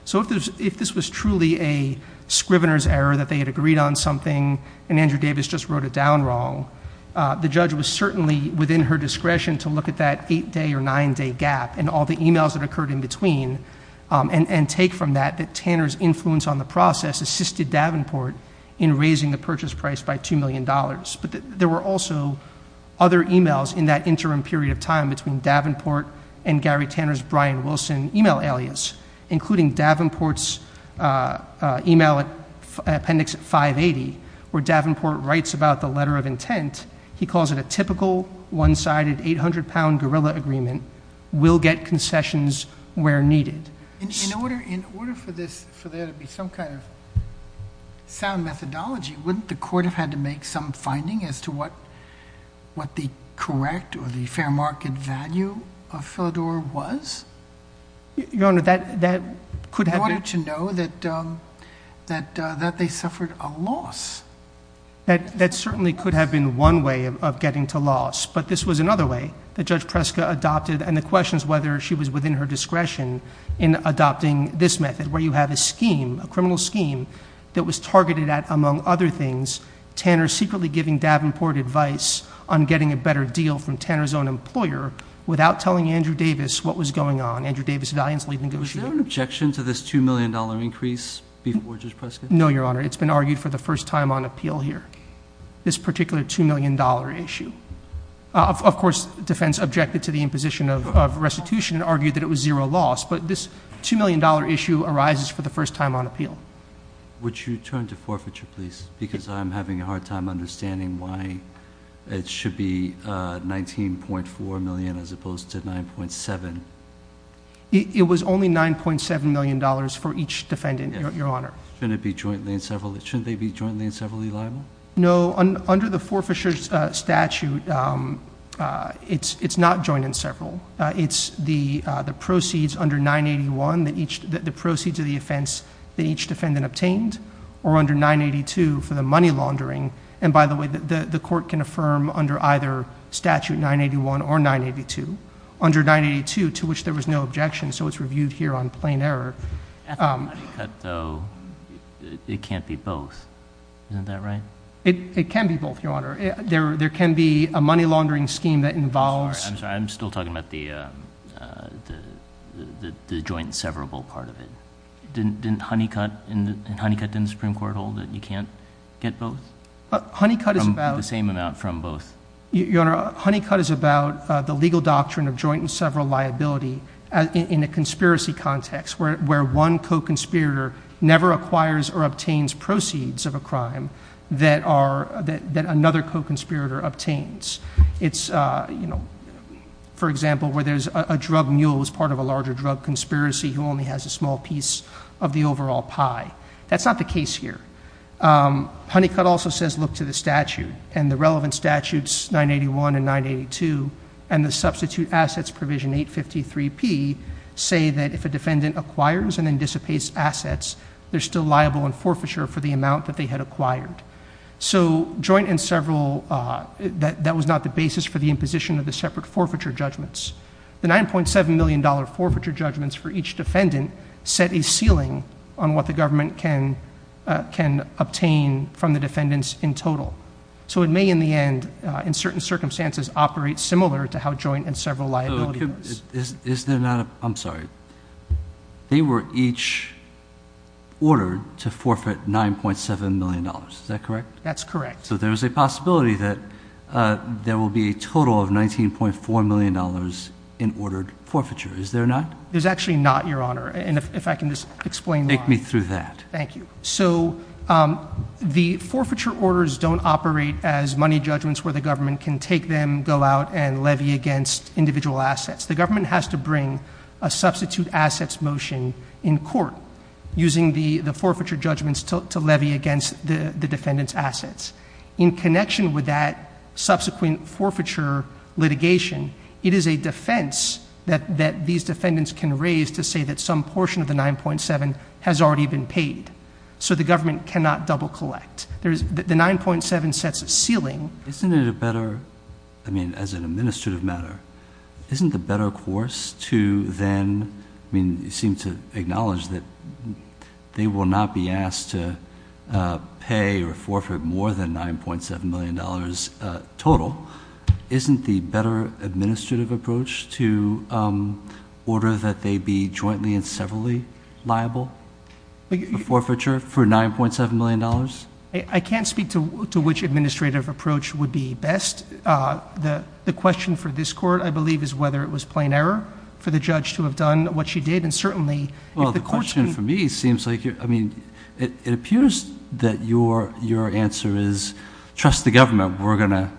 So if there's, if this was truly a Scrivener's error that they had agreed on something and Andrew Davis just wrote it down wrong, uh, the judge was certainly within her discretion to look at that eight day or nine day gap and all the emails that occurred in between. Um, and, and take from that, that Tanner's influence on the process assisted Davenport in raising the purchase price by $2 million. But there were also other emails in that interim period of time between Davenport and Gary Tanner's, Brian Wilson email alias, including Davenport's, uh, uh, email at appendix five 80, where Davenport writes about the letter of intent. He calls it a typical one sided, 800 pound gorilla agreement. We'll get concessions where needed. In order, in order for this, for there to be some kind of sound methodology, wouldn't the court have had to make some finding as to what, what the correct or the fair market value of Philidor was. Your honor that, that could have wanted to know that, um, that, uh, that they suffered a loss. That, that certainly could have been one way of getting to loss, but this was another way that judge Prescott adopted. And the question is whether she was within her discretion in adopting this method, where you have a scheme, a criminal scheme that was targeted at, among other things, Tanner secretly giving Davenport advice on getting a better deal from Tanner's own employer without telling Andrew Davis what was going on. Andrew Davis, valiantly negotiate objection to this $2 million increase before just Prescott. Your honor, it's been argued for the first time on appeal here, this particular $2 million issue. Of course, defense objected to the imposition of restitution and argued that it was zero loss, but this $2 million issue arises for the first time on appeal. Would you turn to forfeiture please? Because I'm having a hard time understanding why it should be, uh, 19.4 million, as opposed to 9.7. It was only $9.7 million for each defendant. Your honor. Shouldn't it be jointly in several, shouldn't they be jointly in several liable? No. Under the forfeiture statute, um, uh, it's, it's not joined in several. Uh, it's the, uh, the proceeds under nine 81 that each, the proceeds of the offense that each defendant obtained or under nine 82 for the money laundering. And by the way, the court can affirm under either statute, nine 81 or nine 82 under nine 82, to which there was no objection. So it's reviewed here on plain error. Um, though it can't be both. Isn't that right? It, it can be both your honor. There, there can be a money laundering scheme that involves, I'm sorry, I'm still talking about the, um, uh, the, the, the joint severable part of it. Didn't, didn't Honeycutt and Honeycutt didn't Supreme court hold that you can't get both. But Honeycutt is about the same amount from both. Your honor. Honeycutt is about the legal doctrine of joint and several liability in a conspiracy context. Where, where one co-conspirator never acquires or obtains proceeds of a crime that are, that, that another co-conspirator obtains it's, uh, you know, for example, where there's a drug mule was part of a larger drug conspiracy who only has a small piece of the overall pie. That's not the case here. Um, Honeycutt also says, look to the statute and the relevant statutes, nine 81 and nine 82. And the substitute assets provision eight 53 P say that if a defendant acquires and then dissipates assets, there's still liable and forfeiture for the amount that they had acquired. So joint and several, uh, that that was not the basis for the imposition of the separate forfeiture judgments, the $9.7 million forfeiture judgments for each defendant set a ceiling on what the government can, uh, can obtain from the defendants in total. So it may in the end, uh, in certain circumstances operate similar to how joint and several liability is, is there not, I'm sorry. They were each ordered to forfeit $9.7 million. Is that correct? That's correct. So there was a possibility that, uh, there will be a total of $19.4 million in ordered forfeiture. Is there not? There's actually not your honor. And if, if I can just explain, take me through that. Thank you. So, um, the forfeiture orders don't operate as money judgments where the government can take them, go out and levy against individual assets. The government has to bring a substitute assets motion in court using the, the forfeiture judgments to, to levy against the defendants assets in connection with that subsequent forfeiture litigation. It is a defense that, that these defendants can raise to say that some portion of the 9.7 has already been paid. So the government cannot double collect there's the 9.7 sets of ceiling. Isn't it a better, I mean, as an administrative matter, isn't the better course to then, I mean, you seem to acknowledge that they will not be asked to, uh, pay or forfeit more than $9.7 million. Uh, total isn't the better administrative approach to, um, order that they be jointly and severally liable forfeiture for $9.7 million. I can't speak to, to which administrative approach would be best. Uh, the, the question for this court, I believe is whether it was plain error for the judge to have done what she did. And certainly, well, the question for me seems like you're, I mean, it appears that your, your answer is trust the government. We're going to,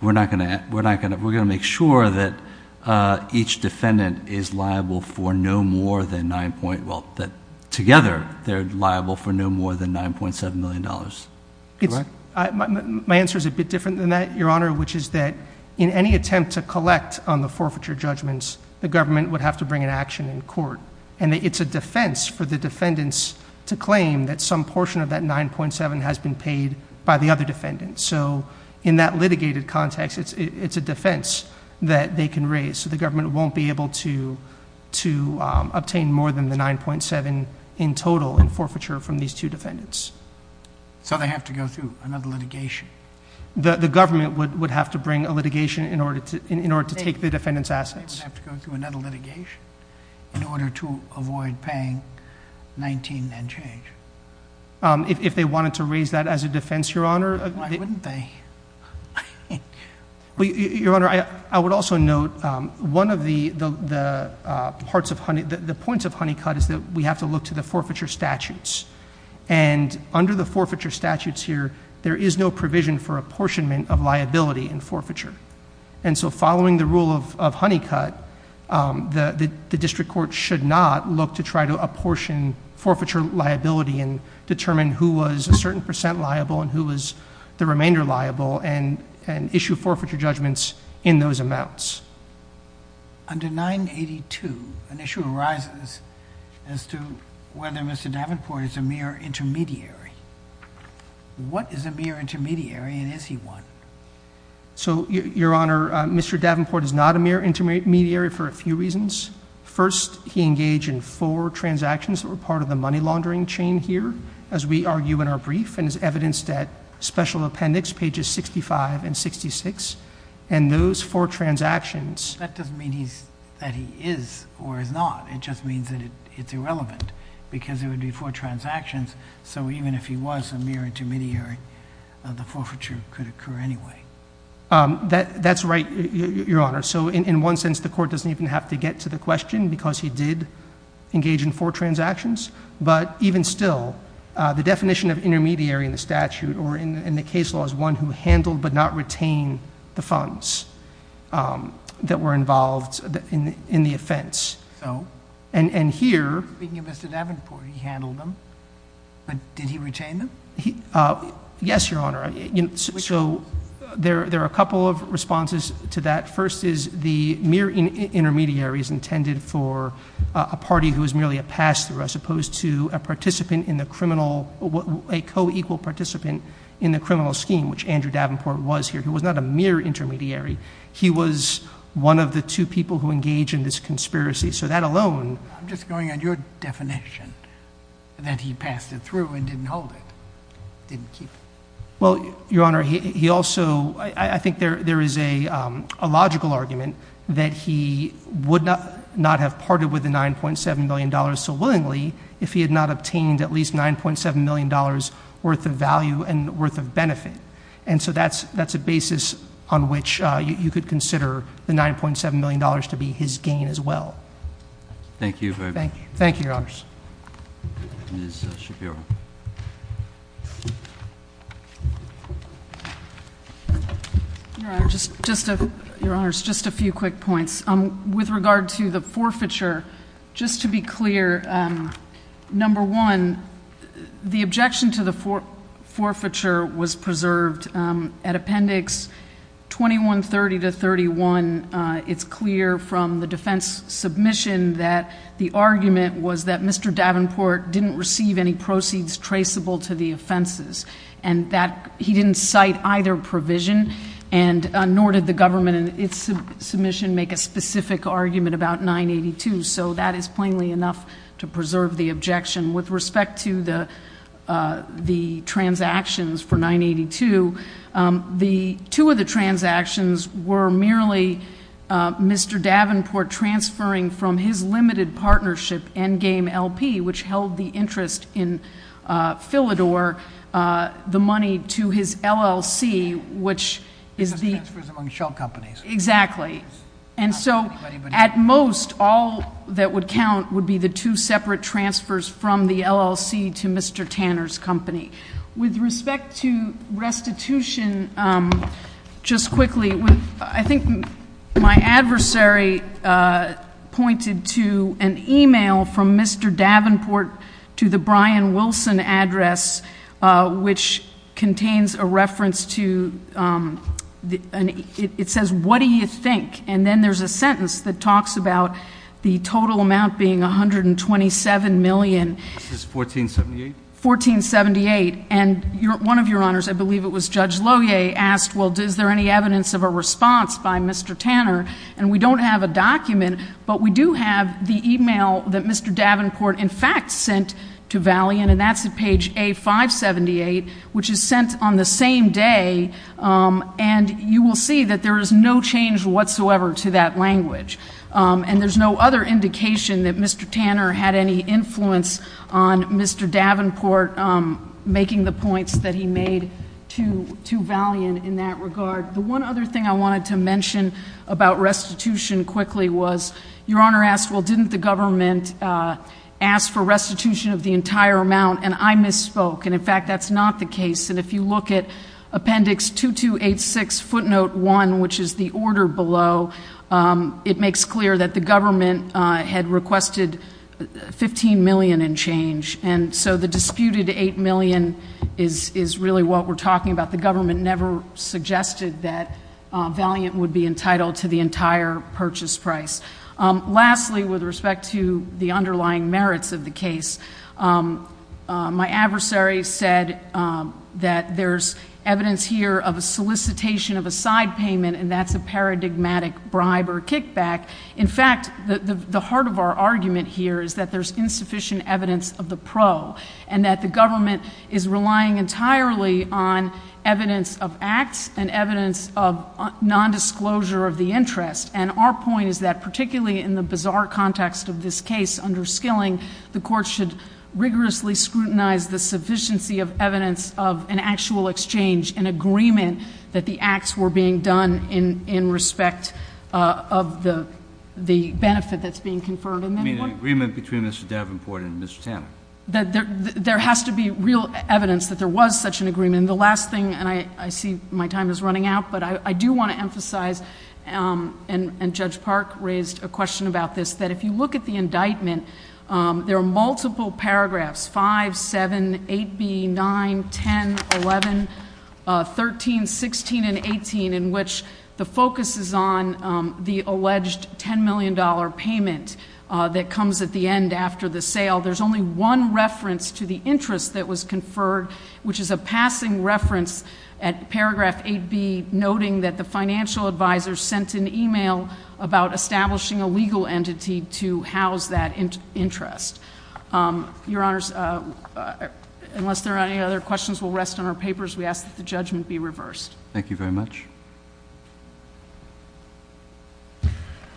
we're not going to, we're not going to, we're going to make sure that, uh, each defendant is liable for no more than nine point. Well, that together they're liable for no more than $9.7 million. My answer is a bit different than that, your honor, which is that in any attempt to collect on the forfeiture judgments, the government would have to bring an action in court. And it's a defense for the defendants to claim that some portion of that 9.7 has been paid by the other defendants. So in that litigated context, it's, it's a defense that they can raise. So the government won't be able to, to, um, obtain more than the 9.7 in total in forfeiture from these two defendants. So they have to go through another litigation. The, the government would have to bring a litigation in order to, in order to take the defendant's assets. They would have to go through another litigation in order to avoid paying 19 and change. Um, if they wanted to raise that as a defense, your honor. Why wouldn't they? Well, your honor, I, I would also note, um, one of the, the, the, uh, parts of honey, the points of honey cut is that we have to look to the forfeiture statutes and under the forfeiture statutes here, there is no provision for apportionment of liability in forfeiture. And so following the rule of, of honey cut, um, the, the district court should not look to try to apportion forfeiture liability and determine who was a certain percent liable and who was the remainder liable and, and issue forfeiture judgments in those amounts. Under 982, an issue arises as to whether Mr. Davenport is a mere intermediary. What is a mere intermediary? And is he one? So your honor, Mr. Davenport is not a mere intermediary for a few reasons. First, he engaged in four transactions that were part of the money laundering chain here, as we argue in our brief and is evidenced at special appendix pages, 65 and 66. And those four transactions, that doesn't mean he's, that he is or is not. It just means that it's irrelevant because it would be, he engaged in four transactions. So even if he was a mere intermediary, the forfeiture could occur anyway. Um, that that's right, your honor. So in one sense, the court doesn't even have to get to the question because he did engage in four transactions, but even still, uh, the definition of intermediary in the statute or in the case law is one who handled, but not retain the funds, um, that were involved in the, in the offense. So, and, and here, speaking of Mr. Davenport, he handled them, but did he retain them? He, uh, yes, your honor. So there, there are a couple of responses to that. First is the mere intermediaries intended for a party who is merely a pass through, as opposed to a participant in the criminal, a co-equal participant in the criminal scheme, which Andrew Davenport was here. He was not a mere intermediary. He was one of the two people who engage in this conspiracy. So that alone, I'm just going on your definition that he passed it through and didn't hold it. Didn't keep it. Well, your honor, he also, I think there, there is a, um, a logical argument that he would not, not have parted with the $9.7 million. So willingly, if he had not obtained at least $9.7 million worth of value and worth of benefit. And so that's, that's a basis on which you could consider the $9.7 million to be his gain as well. Thank you. Thank you. Thank you. Your honors. Ms. Shapiro. Just, just to your honors, just a few quick points. Um, with regard to the forfeiture, just to be clear, um, number one, the objection to the four forfeiture was preserved, um, at appendix 2130 to 31. Uh, it's clear from the defense submission that the argument was that Mr. Davenport didn't receive any proceeds traceable to the offenses and that he didn't cite either provision and, uh, nor did the government and its submission make a specific argument about 982. So that is plainly enough to preserve the objection with respect to the, uh, the transactions for 982. Um, the two of the transactions were merely, uh, Mr. Davenport transferring from his limited partnership and game LP, which held the interest in, uh, Philidor, uh, the money to his LLC, which is the shell companies. Exactly. And so at most, all that would count would be the two separate transfers from the LLC to Mr. Tanner's company with respect to restitution. Um, just quickly, I think my adversary, uh, pointed to an email from Mr. Davenport to the Brian Wilson address, uh, which contains a reference to, um, the, it says, what do you think? And then there's a sentence that talks about the total amount being 127 million. This is 1478. 1478. And you're one of your honors. I believe it was judge Lohier asked, well, does there any evidence of a response by Mr. Tanner? And we don't have a document, but we do have the email that Mr. Davenport in fact sent to Valley. And, and that's a page a five 78, which is sent on the same day. Um, and you will see that there is no change whatsoever to that language. Um, and there's no other indication that Mr. Tanner had any influence on Mr. Davenport, um, in making the points that he made to, to Valiant in that regard. The one other thing I wanted to mention about restitution quickly was your honor asked, well, didn't the government, uh, ask for restitution of the entire amount. And I misspoke. And in fact, that's not the case. And if you look at appendix two, two, eight, six footnote one, which is the order below, um, it makes clear that the government, uh, had requested 15 million and change. And so the disputed 8 million is, is really what we're talking about. The government never suggested that, uh, Valiant would be entitled to the entire purchase price. Um, lastly, with respect to the underlying merits of the case, um, uh, my adversary said, um, that there's evidence here of a solicitation of a side payment and that's a paradigmatic bribe or kickback. In fact, the, the heart of our argument here is that there's insufficient evidence of the pro and that the government is relying entirely on evidence of acts and evidence of non-disclosure of the interest. And our point is that particularly in the bizarre context of this case under skilling, the court should rigorously scrutinize the sufficiency of evidence of an actual exchange and agreement that the acts were being done in, in respect, uh, of the, the benefit that's being conferred. I mean, an agreement between Mr. Davenport and Mr. Tanner. There has to be real evidence that there was such an agreement. The last thing, and I, I see my time is running out, but I do want to emphasize, um, and Judge Park raised a question about this, that if you look at the indictment, um, there are multiple paragraphs, five, seven, eight, B, nine, 10, 11, uh, 13, 16, and 18, in which the focus is on, um, the alleged $10 million payment, uh, that comes at the end after the sale. There's only one reference to the interest that was conferred, which is a passing reference at paragraph eight B, noting that the financial advisor sent an email about establishing a legal entity to house that interest. Um, your honors, uh, unless there are any other questions, we'll rest on our papers. We ask that the judgment be reversed. Thank you very much.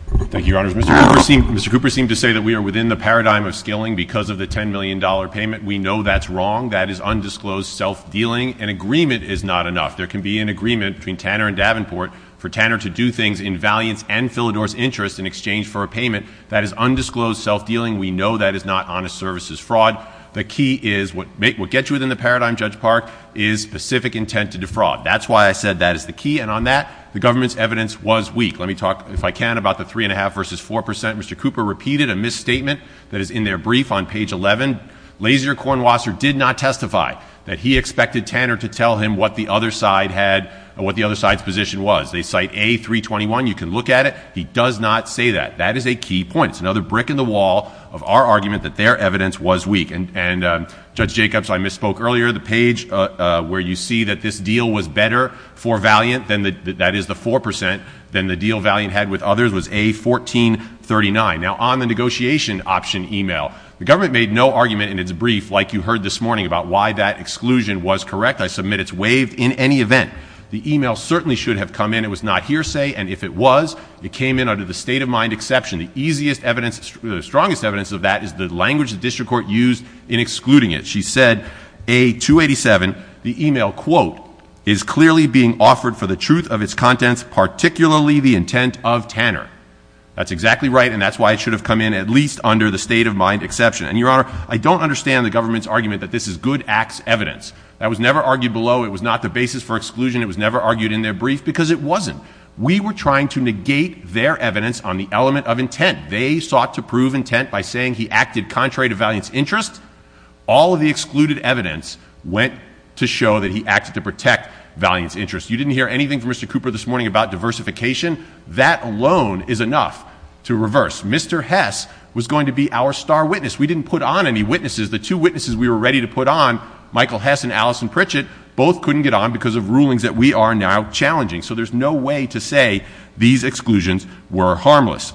Thank you, your honors. Mr. Cooper seemed, Mr. Cooper seemed to say that we are within the paradigm of scaling because of the $10 million payment. We know that's wrong. That is undisclosed self-dealing. An agreement is not enough. There can be an agreement between Tanner and Davenport for Tanner to do things in valiance and Philidor's interest in exchange for a payment that is undisclosed self-dealing. We know that is not honest services fraud. The key is what makes what gets you within the paradigm. Judge Park is specific intent to defraud. That's why I said that is the key. And on that, the government's evidence was weak. Let me talk, if I can, about the three and a half versus 4%. Mr. Cooper repeated a misstatement that is in their brief on page 11, laser Cornwasser did not testify that he expected Tanner to tell him what the other side had or what the other side's position was. They cite a three 21. You can look at it. He does not say that that is a key point. It's another brick in the wall of our argument that their evidence was weak. And, and, um, judge Jacobs, I misspoke earlier, the page, uh, where you see that this deal was better for Valiant than the, that is the 4% than the deal Valiant had with others was a 1439. Now on the negotiation option email, the government made no argument in its brief. Like you heard this morning about why that exclusion was correct. I submit it's waived in any event, the email certainly should have come in. It was not hearsay. And if it was, it came in under the state of mind, exception, the easiest evidence, the strongest evidence of that is the language that district court used in excluding it. She said a two 87, the email quote is clearly being offered for the truth of its contents, particularly the intent of Tanner. That's exactly right. And that's why it should have come in at least under the state of mind exception. And your honor, I don't understand the government's argument that this is good acts evidence that was never argued below. It was not the basis for exclusion. It was never argued in their brief because it wasn't, we were trying to negate their evidence on the element of intent. They sought to prove intent by saying he acted contrary to valiance interest. All of the excluded evidence went to show that he acted to protect valiance interest. You didn't hear anything from Mr. Cooper this morning about diversification. That alone is enough to reverse. Mr. Hess was going to be our star witness. We didn't put on any witnesses. The two witnesses we were ready to put on Michael Hess and Alison Pritchett both couldn't get on because of rulings that we are now challenging. So there's no way to say these exclusions were harmless.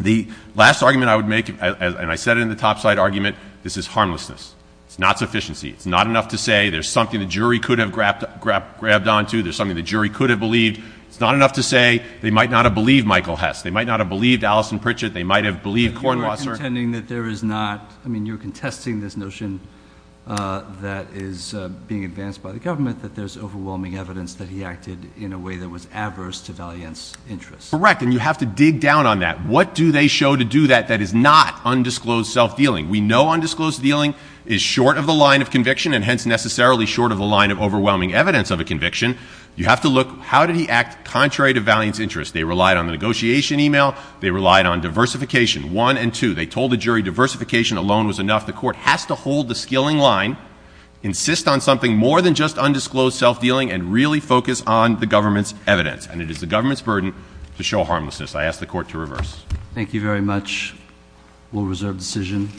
The last argument I would make, and I said it in the topside argument, this is harmlessness. It's not sufficiency. It's not enough to say there's something the jury could have grabbed, grabbed, grabbed onto. There's something the jury could have believed. It's not enough to say they might not have believed Michael Hess. They might not have believed Alison Pritchett. They might have believed Cornwall. Sir. That there is not, I mean, you're contesting this notion that is being advanced by the government, that there's overwhelming evidence that he acted in a way that was adverse to valiance interest. Correct. And you have to dig down on that. What do they show to do that that is not undisclosed self-dealing? We know undisclosed dealing is short of the line of conviction and hence necessarily short of the line of overwhelming evidence of a conviction. You have to look, how did he act contrary to valiance interest? They relied on the negotiation email. They relied on diversification, one and two. They told the jury diversification alone was enough. The court has to hold the skilling line, insist on something more than just undisclosed self-dealing, and really focus on the government's evidence. And it is the government's burden to show harmlessness. I ask the court to reverse. Thank you very much. We'll reserve decision.